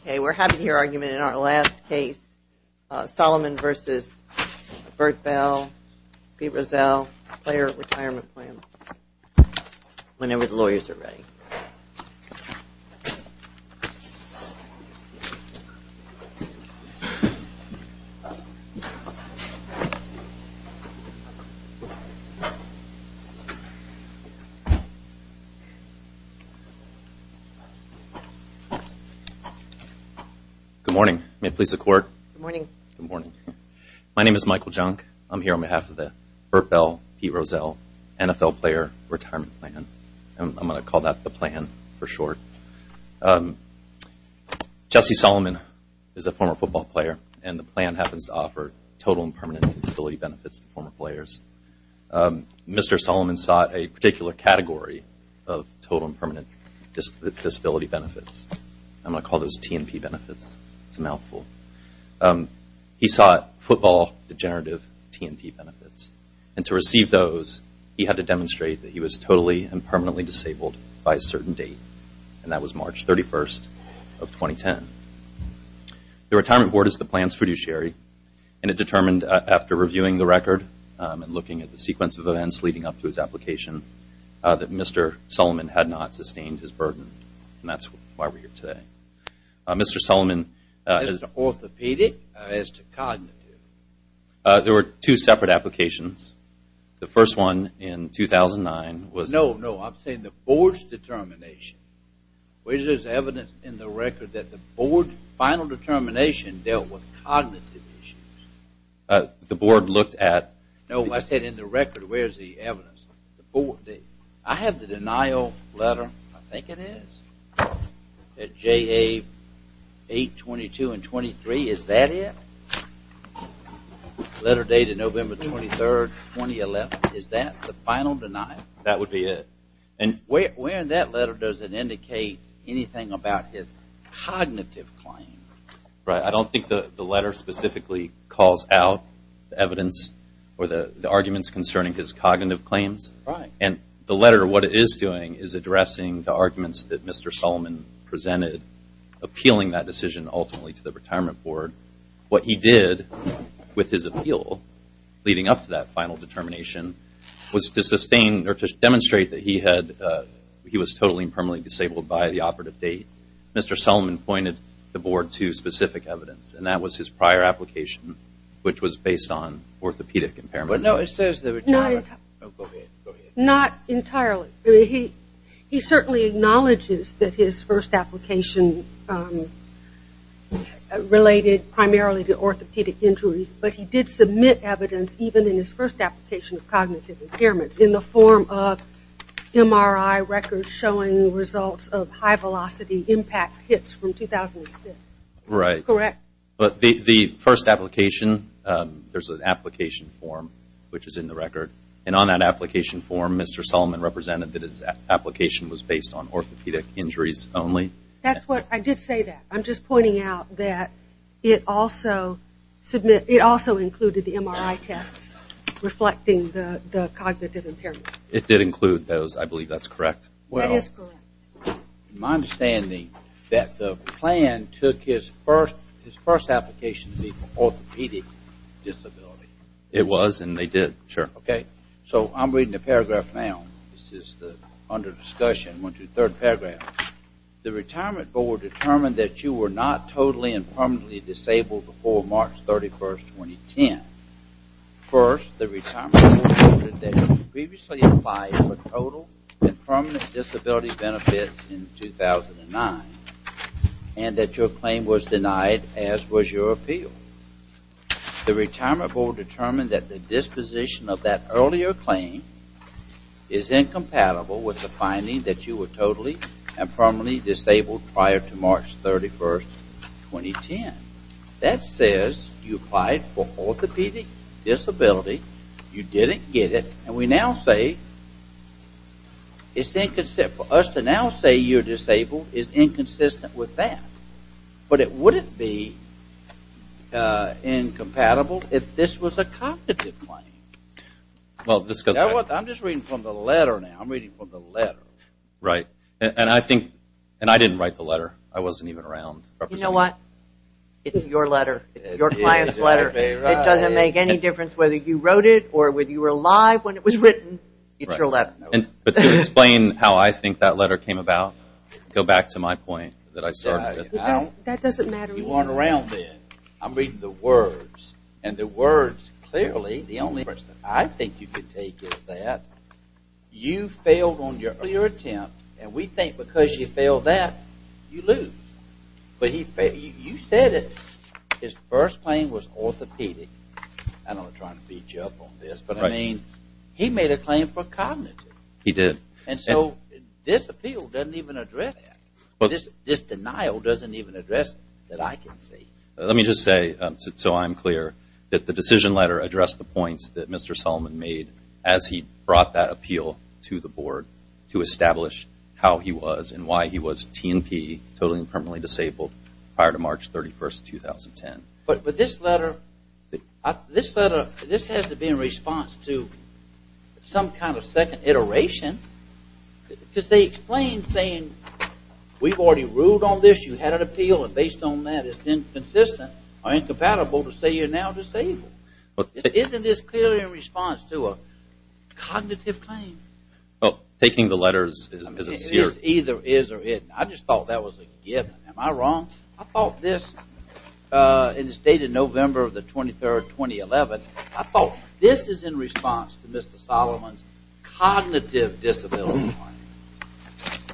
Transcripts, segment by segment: Okay, we're having your argument in our last case, Solomon v. Bert Bell, Pete Rozelle, Player Retirement Plan, whenever the lawyers are ready. Good morning. May it please the Court? Good morning. My name is Michael Junk. I'm here on behalf of the Bert Bell, Pete Rozelle NFL Player Retirement Plan. I'm going to call that the plan for short. Jesse Solomon is a former football player, and the plan happens to offer total and permanent disability benefits to former players. Mr. Solomon sought a particular category of total and permanent disability benefits. I'm going to call those T&P benefits. It's a mouthful. He sought football degenerative T&P benefits, and to receive those, he had to demonstrate that he was totally and permanently disabled by a certain date, and that was March 31st of 2010. The retirement board is the plan's fiduciary, and it determined after reviewing the record and looking at the sequence of events leading up to his application, that Mr. Solomon had not sustained his burden, and that's why we're here today. Mr. Solomon… As an orthopedic or as to cognitive? There were two separate applications. The first one in 2009 was… No, no. I'm saying the board's determination. Where's there's evidence in the record that the board's final determination dealt with cognitive issues? The board looked at… No, I said in the record, where's the evidence? I have the denial letter, I think it is, at JA 822 and 23. Is that it? Letter dated November 23rd, 2011. Is that the final denial? That would be it. Where in that letter does it indicate anything about his cognitive claim? I don't think the letter specifically calls out the evidence or the arguments concerning his cognitive claims. The letter, what it is doing, is addressing the arguments that Mr. Solomon presented, appealing that decision ultimately to the retirement board. What he did with his appeal leading up to that final determination was to sustain or to demonstrate that he was totally and permanently disabled by the operative date. Mr. Solomon pointed the board to specific evidence. That was his prior application, which was based on orthopedic impairments. No, it says… Go ahead. Not entirely. He certainly acknowledges that his first application related primarily to orthopedic injuries, but he did submit evidence, even in his first application of cognitive impairments, in the form of MRI records showing results of high velocity impact hits from 2006. Right. Correct? But the first application, there's an application form, which is in the record, and on that application form, Mr. Solomon represented that his application was based on orthopedic injuries only. That's what, I did say that. I'm just pointing out that it also included the MRI tests reflecting the cognitive impairments. It did include those. I believe that's correct. That is correct. My understanding is that the plan took his first application to be for orthopedic disability. It was, and they did. Sure. Okay. So, I'm reading the paragraph now. This is under discussion. One, two, third paragraph. The retirement board determined that you were not totally and permanently disabled before March 31, 2010. First, the retirement board noted that you previously applied for total and permanent disability benefits in 2009, and that your claim was denied, as was your appeal. The retirement board determined that the disposition of that earlier claim is incompatible with the finding that you were totally and permanently disabled prior to March 31, 2010. That says you applied for orthopedic disability, you didn't get it, and we now say it's inconsistent. For us to now say you're disabled is inconsistent with that, but it wouldn't be incompatible if this was a cognitive claim. Well, this goes back to... I'm just reading from the letter now. I'm reading from the letter. Right. And I think, and I didn't write the letter. I wasn't even around. You know what? It's your letter. It's your client's letter. It doesn't make any difference whether you wrote it or whether you were alive when it was written. It's your letter. But can you explain how I think that letter came about? Go back to my point that I started with. That doesn't matter. You weren't around then. I'm reading the words, and the words clearly, the only impression I think you could take is that you failed on your earlier attempt, and we think because you failed that, you lose. But you said it. His first claim was orthopedic. I don't want to try to beat you up on this, but I mean, he made a claim for cognitive. He did. And so this appeal doesn't even address that. This denial doesn't even address it that I can see. Let me just say, so I'm clear, that the decision letter addressed the points that Mr. Solomon made as he brought that appeal to the board to establish how he was and why he was T&P, totally and permanently disabled, prior to March 31st, 2010. But this letter, this letter, this has to be in response to some kind of second iteration because they explained saying, we've already ruled on this. You had an appeal, and based on that, it's inconsistent or incompatible to say you're now disabled. Isn't this clearly in response to a cognitive claim? Well, taking the letters is a seer. It is either is or isn't. I just thought that was a given. Am I wrong? I thought this, in the state of November the 23rd, 2011, I thought this is in response to Mr. Solomon's cognitive disability claim.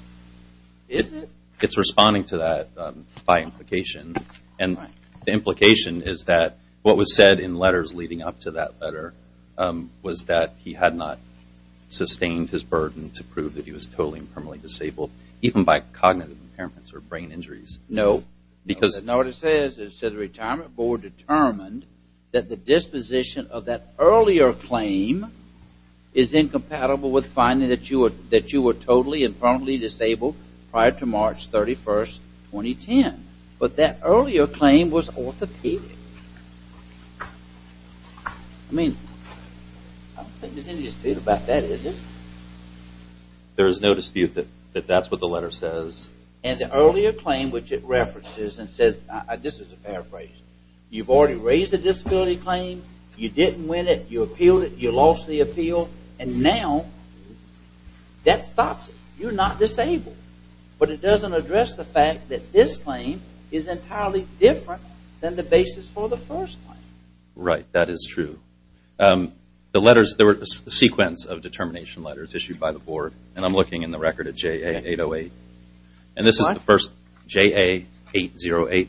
Is it? It's responding to that by implication, and the implication is that what was said in letters leading up to that letter was that he had not sustained his burden to prove that he was totally and permanently disabled, even by cognitive impairments or brain injuries. No. Because No, what it says is that the retirement board determined that the disposition of that earlier claim is incompatible with finding that you were totally and permanently disabled prior to March 31st, 2010. But that earlier claim was orthopedic. I mean, I don't think there's any dispute about that, is there? There is no dispute that that's what the letter says. And the earlier claim, which it references and says, this is a paraphrase, you've already raised a disability claim, you didn't win it, you appealed it, you lost the appeal, and now that stops it. You're not disabled. But it doesn't address the fact that this claim is entirely different than the basis for the first claim. Right, that is true. There were a sequence of determination letters issued by the board, and I'm looking in the record at JA808. And this is the first JA808.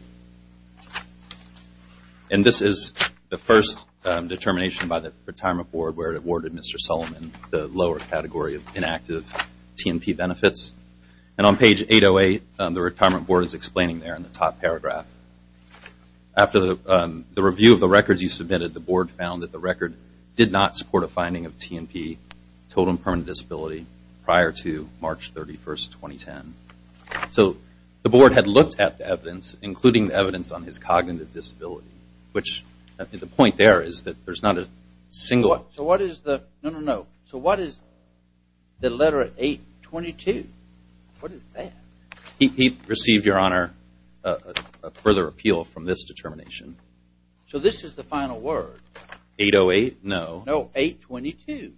And this is the first determination by the retirement board where it awarded Mr. Sullivan the lower category of inactive T&P benefits. And on page 808, the retirement board is explaining there in the top paragraph. After the review of the records you submitted, the board found that the record did not support a finding of T&P, total and permanent disability, prior to March 31, 2010. So the board had looked at the evidence, including the evidence on his cognitive disability, which the point there is that there's not a single... So what is the... No, no, no. So what is the letter 822? What is that? He received, Your Honor, a further appeal from this determination. So this is the final word? 808? No. No, 822.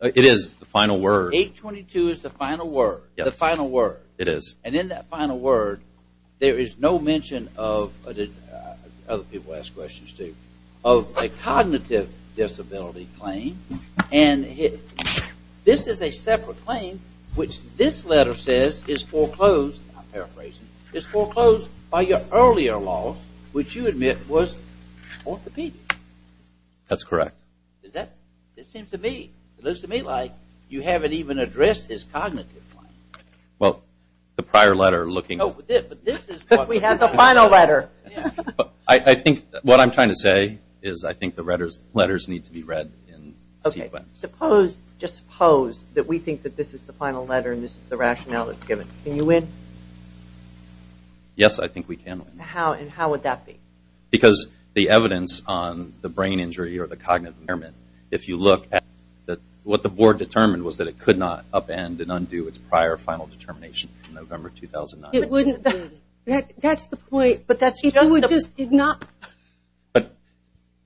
It is the final word. 822 is the final word. Yes. The final word. It is. And in that final word, there is no mention of, other people asked questions too, of a cognitive disability claim. And this is a separate claim which this letter says is foreclosed, not paraphrasing, is foreclosed by your earlier law, which you admit was orthopedic. That's correct. Does that... It seems to me, it looks to me like you haven't even addressed his cognitive claim. Well, the prior letter looking... No, but this is... We have the final letter. I think what I'm trying to say is I think the letters need to be read in sequence. Okay. Suppose, just suppose, that we think that this is the final letter and this is the rationale that's given. Can you win? Yes, I think we can win. How? And how would that be? Because the evidence on the brain injury or the cognitive impairment, if you look at what the board determined was that it could not upend and undo its prior final determination in November 2009. It wouldn't... That's the point, but that's... It would just not... But...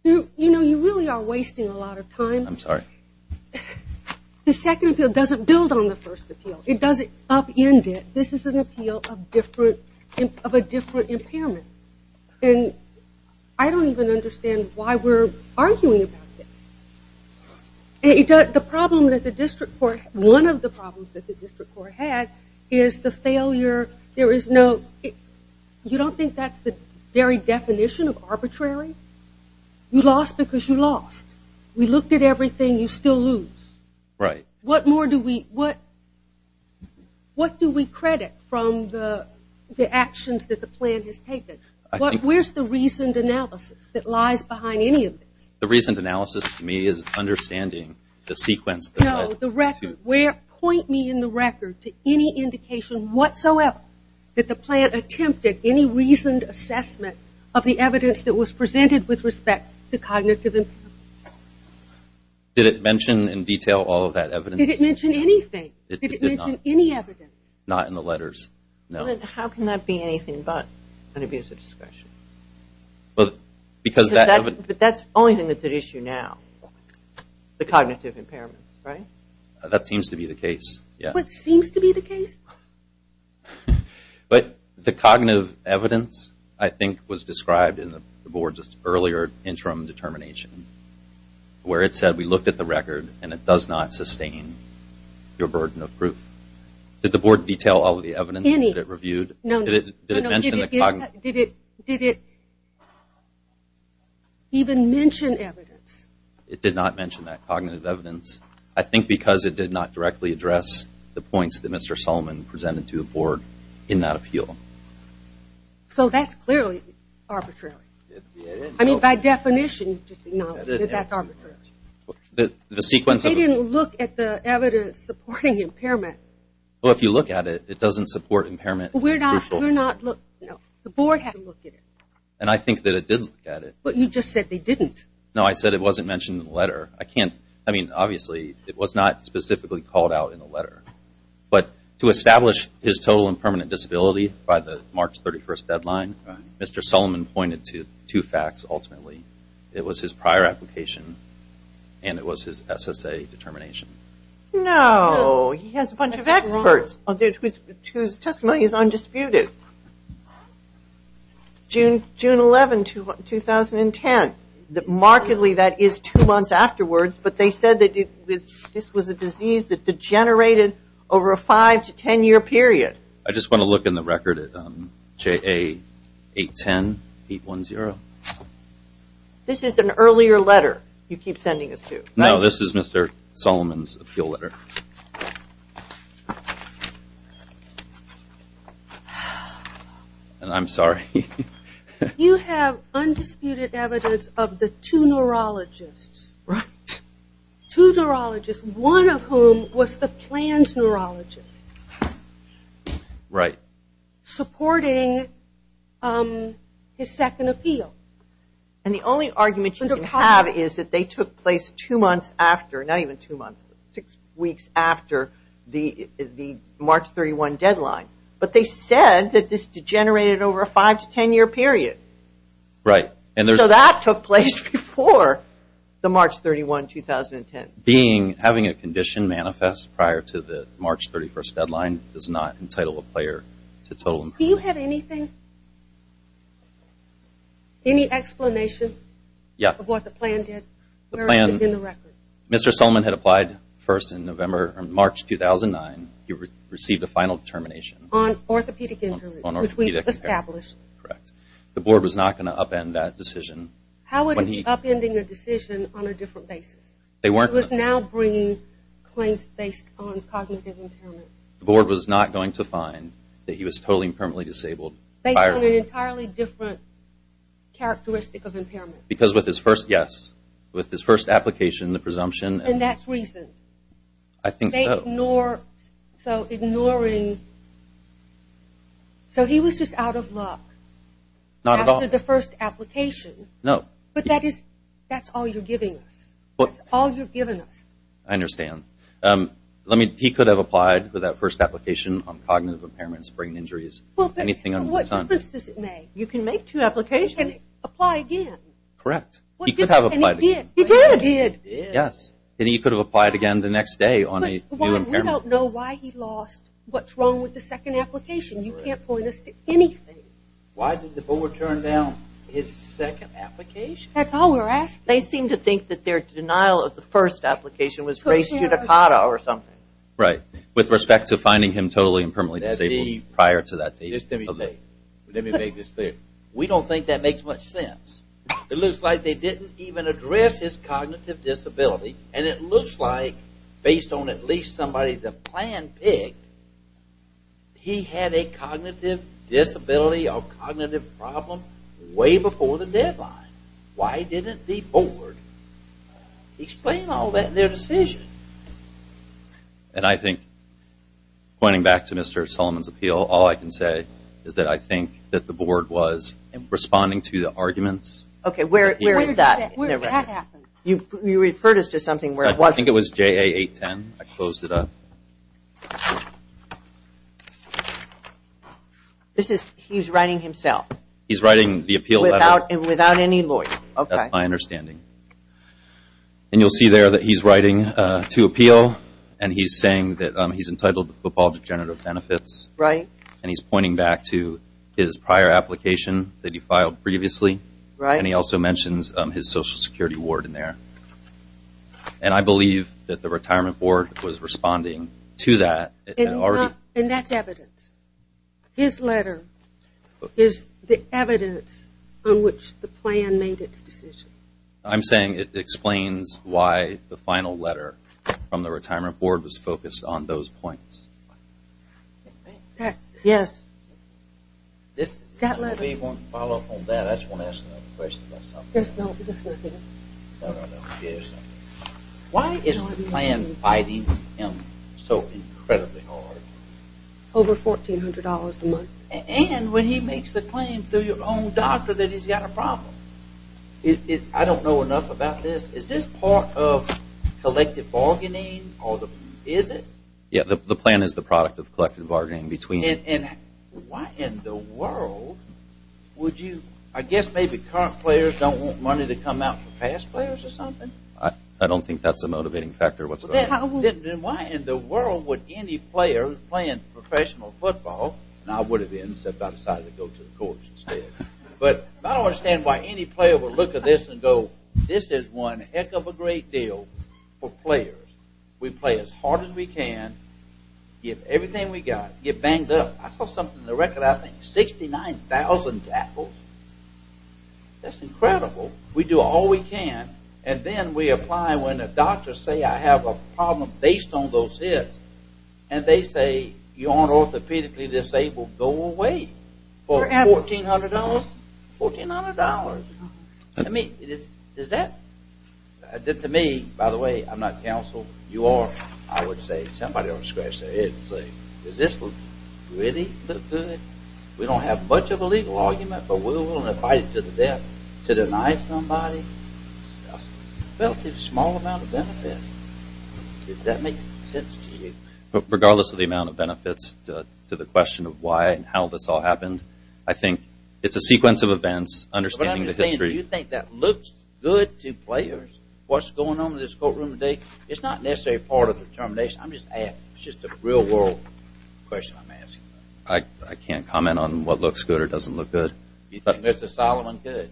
You know, you really are wasting a lot of time. I'm sorry. The second appeal doesn't build on the first appeal. It doesn't upend it. This is an appeal of a different impairment. And I don't even understand why we're arguing about this. The problem that the district court... One of the problems that the district court had is the failure... There is no... You don't think that's the very definition of arbitrary? You lost because you lost. We looked at everything. You still lose. Right. What more do we... What do we credit from the actions that the plan has taken? Where's the reasoned analysis that lies behind any of this? The reasoned analysis, to me, is understanding the sequence that led to... No, the record. Point me in the record to any indication whatsoever that the plan attempted any reasoned assessment of the evidence that was presented with respect to cognitive impairments. Did it mention in detail all of that evidence? Did it mention anything? It did not. Did it mention any evidence? Not in the letters. No. Then how can that be anything but an abuser discretion? Well, because that... But that's the only thing that's at issue now, the cognitive impairments, right? That seems to be the case, yeah. What seems to be the case? But the cognitive evidence, I think, was described in the board's earlier interim determination, where it said we looked at the record and it does not sustain your burden of proof. Did the board detail all of the evidence that it reviewed? Any. No. Did it mention the cognitive... Did it even mention evidence? It did not mention that cognitive evidence. I think because it did not directly address the points that Mr. Solomon presented to the board in that appeal. So that's clearly arbitrary. I mean, by definition, just acknowledge that that's arbitrary. The sequence of... They didn't look at the evidence supporting impairment. Well, if you look at it, it doesn't support impairment. We're not... No. The board had to look at it. And I think that it did look at it. But you just said they didn't. No, I said it wasn't mentioned in the letter. I can't... I mean, obviously, it was not specifically called out in the letter. But to establish his total and permanent disability by the March 31st deadline, Mr. Solomon pointed to two facts, ultimately. It was his prior application and it was his SSA determination. No. He has a bunch of experts whose testimony is undisputed. June 11, 2010. Markedly, that is two months afterwards. But they said that this was a disease that degenerated over a five- to ten-year period. I just want to look in the record at JA 810, 810. This is an earlier letter you keep sending us to. No, this is Mr. Solomon's appeal letter. I'm sorry. You have undisputed evidence of the two neurologists. Right. Two neurologists, one of whom was the plan's neurologist. Right. Supporting his second appeal. And the only argument you can have is that they took place two months after, not even two months, six weeks after the March 31 deadline. But they said that this degenerated over a five- to ten-year period. Right. So that took place before the March 31, 2010. Having a condition manifest prior to the March 31st deadline does not entitle a player to total improvement. Do you have anything, any explanation of what the plan did? The plan, Mr. Solomon had applied first in November or March 2009. He received a final determination. On orthopedic injuries, which we established. Correct. The board was not going to upend that decision. How would it be upending a decision on a different basis? It was now bringing claims based on cognitive impairment. The board was not going to find that he was totally and permanently disabled. Based on an entirely different characteristic of impairment. Because with his first, yes, with his first application, the presumption. And that's reason. I think so. Ignore, so ignoring. So he was just out of luck. Not at all. After the first application. No. But that is, that's all you're giving us. What? That's all you're giving us. I understand. Let me, he could have applied for that first application on cognitive impairment and sprain injuries. Anything under the sun. What difference does it make? You can make two applications. He can apply again. Correct. He could have applied again. He did. He did. Yes. And he could have applied again the next day on a new impairment. We don't know why he lost. What's wrong with the second application? You can't point us to anything. Why did the board turn down his second application? That's all we're asking. They seem to think that their denial of the first application was race judicata or something. Right. With respect to finding him totally and permanently disabled prior to that date. Let me make this clear. We don't think that makes much sense. It looks like they didn't even address his cognitive disability. And it looks like based on at least somebody's plan pick, he had a cognitive disability or cognitive problem way before the deadline. Why didn't the board explain all that in their decision? And I think, pointing back to Mr. Solomon's appeal, all I can say is that I think that the board was responding to the arguments. Okay. Where is that? Where did that happen? You referred us to something where it wasn't. I think it was JA 810. I closed it up. He's writing himself. He's writing the appeal letter. Without any lawyer. That's my understanding. And you'll see there that he's writing to appeal, and he's saying that he's entitled to football degenerative benefits. Right. And he's pointing back to his prior application that he filed previously. Right. And he also mentions his Social Security award in there. And I believe that the retirement board was responding to that. And that's evidence. His letter is the evidence on which the plan made its decision. I'm saying it explains why the final letter from the retirement board was focused on those points. Yes. That letter. I just want to ask another question about something. Why is the plan fighting him so incredibly hard? Over $1,400 a month. And when he makes the claim through your own doctor that he's got a problem. I don't know enough about this. Is this part of collective bargaining? Is it? Yes. The plan is the product of collective bargaining. And why in the world would you – I guess maybe current players don't want money to come out for past players or something. I don't think that's a motivating factor whatsoever. Why in the world would any player playing professional football – and I would have been except I decided to go to the courts instead. But I don't understand why any player would look at this and go, this is one heck of a great deal for players. We play as hard as we can, give everything we got, get banged up. I saw something in the record I think, 69,000 tackles. That's incredible. We do all we can. And then we apply when the doctors say I have a problem based on those hits. And they say, you aren't orthopedically disabled. Go away for $1,400. $1,400. I mean, is that – to me, by the way, I'm not counsel. You are, I would say. Somebody ought to scratch their head and say, does this really look good? We don't have much of a legal argument, but we're willing to fight to the death to deny somebody a relatively small amount of benefits. Does that make sense to you? Regardless of the amount of benefits to the question of why and how this all happened, I think it's a sequence of events, understanding the history. Do you think that looks good to players, what's going on in this courtroom today? It's not necessarily part of the determination. It's just a real-world question I'm asking. I can't comment on what looks good or doesn't look good. Do you think Mr. Solomon could?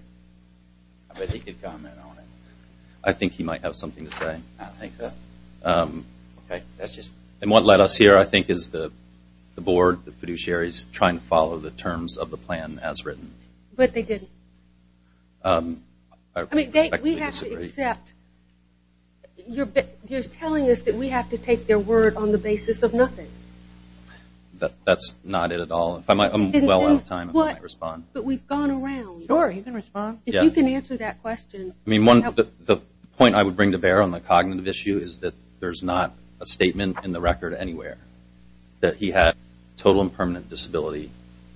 I bet he could comment on it. I think he might have something to say. I don't think so. And what led us here, I think, is the board, the fiduciaries, trying to follow the terms of the plan as written. But they didn't. I respectfully disagree. We have to accept. You're telling us that we have to take their word on the basis of nothing. That's not it at all. I'm well out of time if I might respond. But we've gone around. Sure, you can respond. If you can answer that question. The point I would bring to bear on the cognitive issue is that there's not a statement in the record anywhere that he had total and permanent disability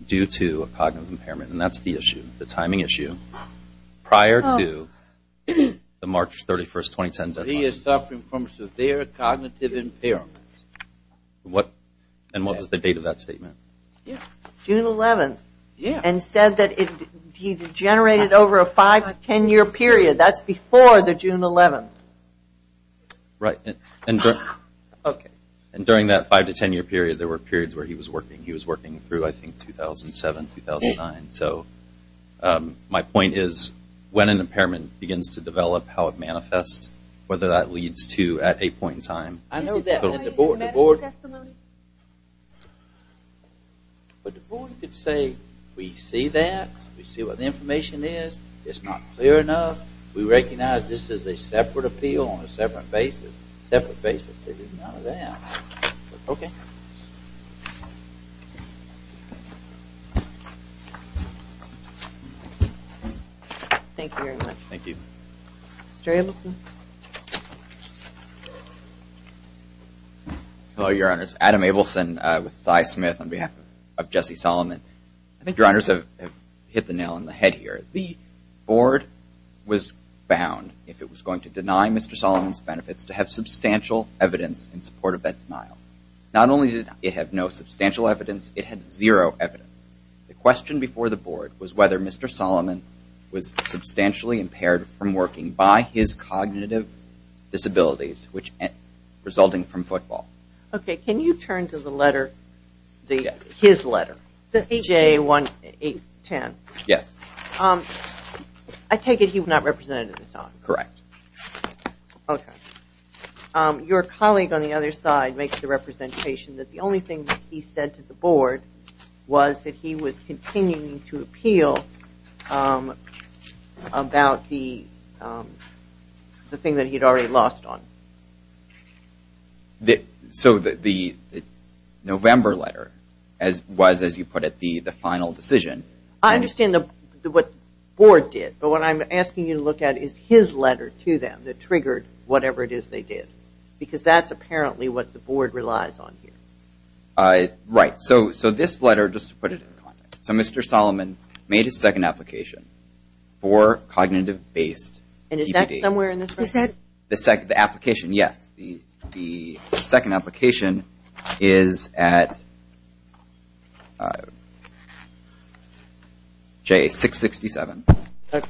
due to a cognitive impairment, and that's the issue, the timing issue. Prior to the March 31, 2010 deadline. He is suffering from severe cognitive impairment. And what was the date of that statement? June 11th. And said that he's generated over a five, ten-year period. That's before the June 11th. Right. And during that five to ten-year period, there were periods where he was working. He was working through, I think, 2007, 2009. So my point is when an impairment begins to develop, how it manifests, whether that leads to at a point in time. I know that. But the board could say we see that. We see what the information is. It's not clear enough. We recognize this is a separate appeal on a separate basis. Separate basis, they didn't know that. Okay. Thank you very much. Mr. Abelson. Hello, Your Honors. Adam Abelson with Cy Smith on behalf of Jesse Solomon. I think Your Honors have hit the nail on the head here. The board was bound, if it was going to deny Mr. Solomon's benefits, to have substantial evidence in support of that denial. Not only did it have no substantial evidence, it had zero evidence. The question before the board was whether Mr. Solomon was substantially impaired from working by his cognitive disabilities resulting from football. Okay. Can you turn to the letter, his letter, J-1-8-10? Yes. I take it he was not represented at the time. Correct. Okay. Your colleague on the other side makes the representation that the only thing that he said to the board was that he was continuing to appeal about the thing that he had already lost on. So the November letter was, as you put it, the final decision. I understand what the board did, but what I'm asking you to look at is his letter to them that triggered whatever it is they did because that's apparently what the board relies on here. Right. So this letter, just to put it in context, so Mr. Solomon made his second application for cognitive-based DPD. And is that somewhere in this record? The application, yes. The second application is at J-667. Okay.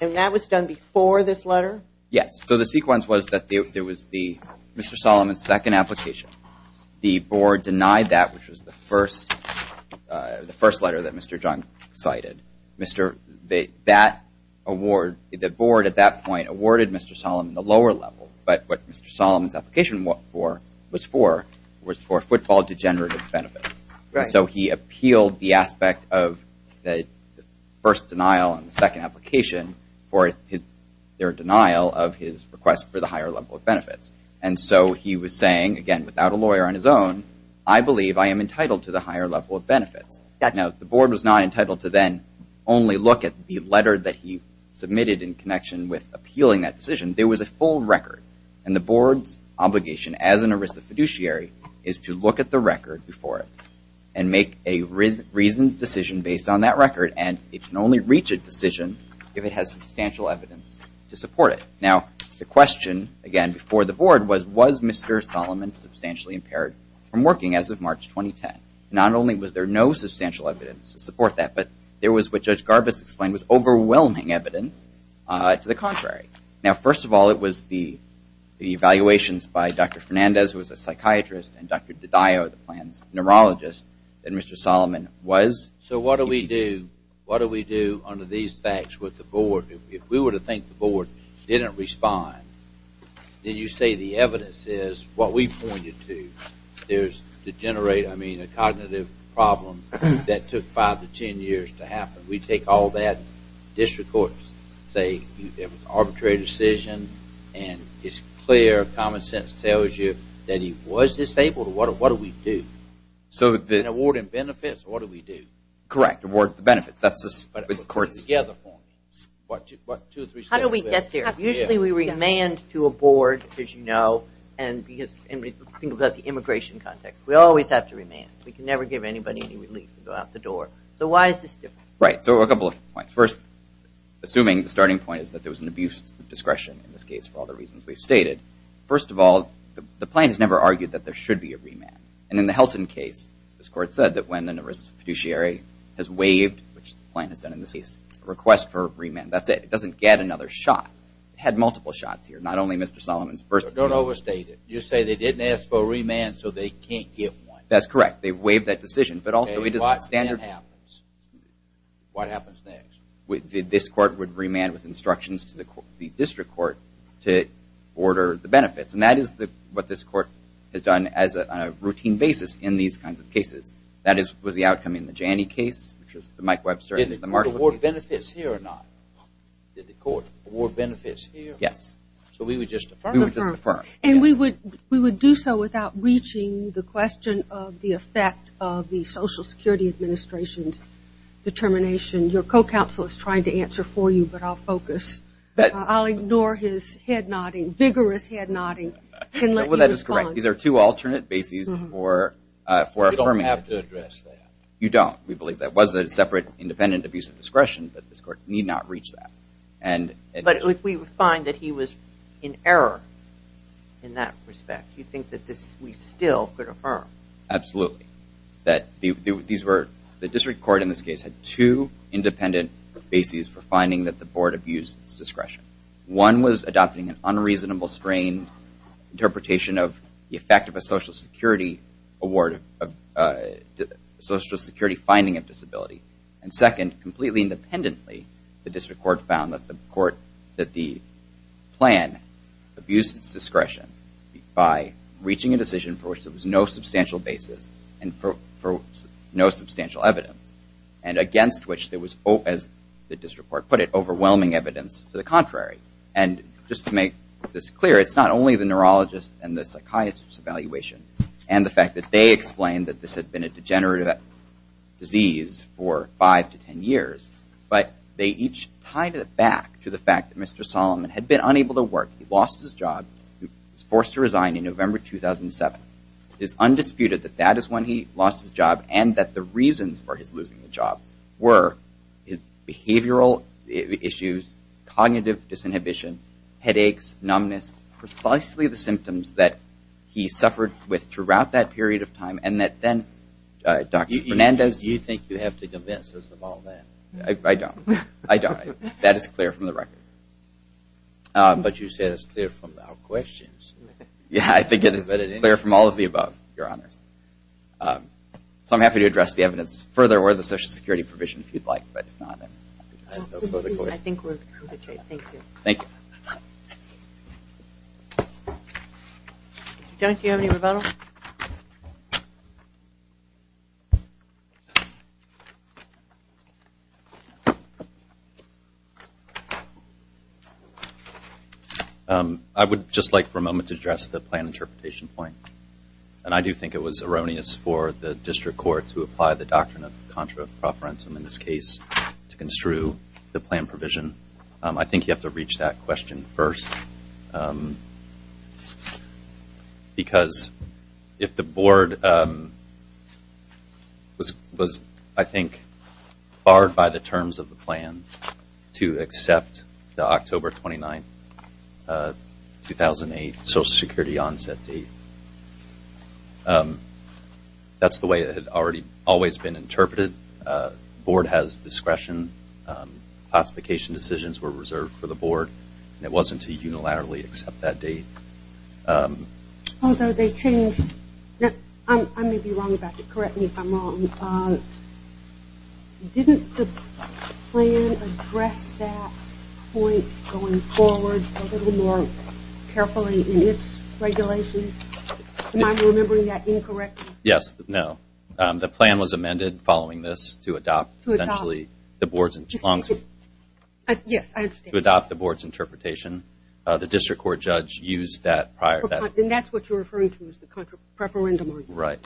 And that was done before this letter? Yes. So the sequence was that there was the Mr. Solomon's second application. The board denied that, which was the first letter that Mr. Jung cited. That award, the board at that point awarded Mr. Solomon the lower level, but what Mr. Solomon's application was for was for football degenerative benefits. Right. So he appealed the aspect of the first denial on the second application for their denial of his request for the higher level of benefits. And so he was saying, again, without a lawyer on his own, I believe I am entitled to the higher level of benefits. Now, the board was not entitled to then only look at the letter that he submitted in connection with appealing that decision. There was a full record, and the board's obligation as an ERISA fiduciary is to look at the record before it and make a reasoned decision based on that record, and it can only reach a decision if it has substantial evidence to support it. Now, the question, again, before the board was, was Mr. Solomon substantially impaired from working as of March 2010? Not only was there no substantial evidence to support that, but there was what Judge Garbus explained was overwhelming evidence to the contrary. Now, first of all, it was the evaluations by Dr. Fernandez, who was a psychiatrist, and Dr. DiDio, the plan's neurologist, that Mr. Solomon was. So what do we do? What do we do under these facts with the board? If we were to think the board didn't respond, did you say the evidence is what we pointed to? There's degenerate, I mean, a cognitive problem that took five to ten years to happen. We take all that, say it was an arbitrary decision, and it's clear common sense tells you that he was disabled. What do we do? And award him benefits. What do we do? Correct. Award the benefits. That's the courts' point. How do we get there? Usually we remand to a board, as you know, and think about the immigration context. We always have to remand. We can never give anybody any relief. We go out the door. So why is this different? Right. So a couple of points. First, assuming the starting point is that there was an abuse of discretion in this case for all the reasons we've stated, first of all, the plan has never argued that there should be a remand. And in the Helton case, this court said that when an arrested fiduciary has waived, which the plan has done in this case, a request for a remand, that's it. It doesn't get another shot. It had multiple shots here, not only Mr. Solomon's first remand. Don't overstate it. You say they didn't ask for a remand, so they can't get one. That's correct. They waived that decision. Okay. What then happens? What happens next? This court would remand with instructions to the district court to order the benefits. And that is what this court has done on a routine basis in these kinds of cases. That was the outcome in the Janney case, which was the Mike Webster and the Marshall case. Did the court award benefits here or not? Did the court award benefits here? Yes. So we would just affirm? We would just affirm. And we would do so without reaching the question of the effect of the Social Security Administration's determination. Your co-counsel is trying to answer for you, but I'll focus. I'll ignore his head-nodding, vigorous head-nodding and let you respond. Well, that is correct. These are two alternate bases for affirming. You don't have to address that. You don't. We believe that. It was a separate independent abuse of discretion, but this court need not reach that. But if we find that he was in error in that respect, do you think that we still could affirm? Absolutely. The district court in this case had two independent bases for finding that the board abused its discretion. One was adopting an unreasonable, strained interpretation of the effect of a Social Security award, a Social Security finding of disability. And second, completely independently, the district court found that the plan abused its discretion by reaching a decision for which there was no substantial basis and for no substantial evidence and against which there was, as the district court put it, overwhelming evidence to the contrary. And just to make this clear, it's not only the neurologist and the psychiatrist's evaluation and the fact that they explained that this had been a degenerative disease for five to ten years, but they each tied it back to the fact that Mr. Solomon had been unable to work. He lost his job. He was forced to resign in November 2007. It is undisputed that that is when he lost his job and that the reasons for his losing the job were behavioral issues, cognitive disinhibition, headaches, numbness, precisely the symptoms that he suffered with throughout that period of time and that then Dr. Fernandez... You think you have to convince us of all that. I don't. I don't. That is clear from the record. But you said it's clear from our questions. Yeah, I think it is clear from all of the above, Your Honors. So I'm happy to address the evidence further or the Social Security provision if you'd like, but if not... I think we're in good shape. Thank you. Thank you. Judge, do you have any rebuttal? I would just like for a moment to address the plan interpretation point, and I do think it was erroneous for the district court to apply the doctrine of contra-propertum in this case to construe the plan provision. I think you have to reach that question first because if the board was, I think, barred by the terms of the plan to accept the October 29, 2008, Social Security onset date, that's the way it had always been interpreted. The board has discretion. Classification decisions were reserved for the board. It wasn't to unilaterally accept that date. Although they changed... I may be wrong about this. Correct me if I'm wrong. Didn't the plan address that point going forward a little more carefully in its regulations? Am I remembering that incorrectly? Yes. No. The plan was amended following this to adopt essentially the board's... Yes, I understand. To adopt the board's interpretation. The district court judge used that prior... And that's what you're referring to as the contra-preferendum, are you? Right.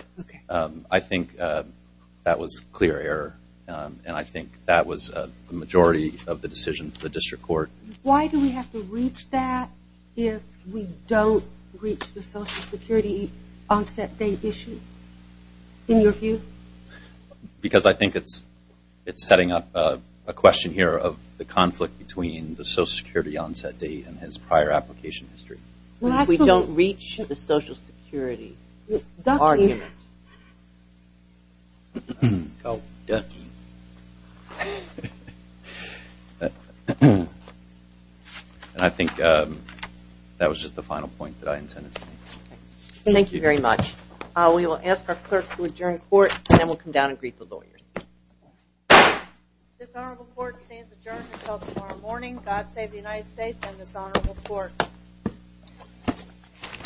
I think that was clear error, and I think that was the majority of the decision for the district court. Why do we have to reach that if we don't reach the Social Security onset date issue, in your view? Because I think it's setting up a question here of the conflict between the Social Security onset date and his prior application history. We don't reach the Social Security argument. Ducky. Oh, ducky. And I think that was just the final point that I intended to make. Thank you very much. We will ask our clerk to adjourn the court, and then we'll come down and greet the lawyers. This honorable court stands adjourned until tomorrow morning. God save the United States and this honorable court.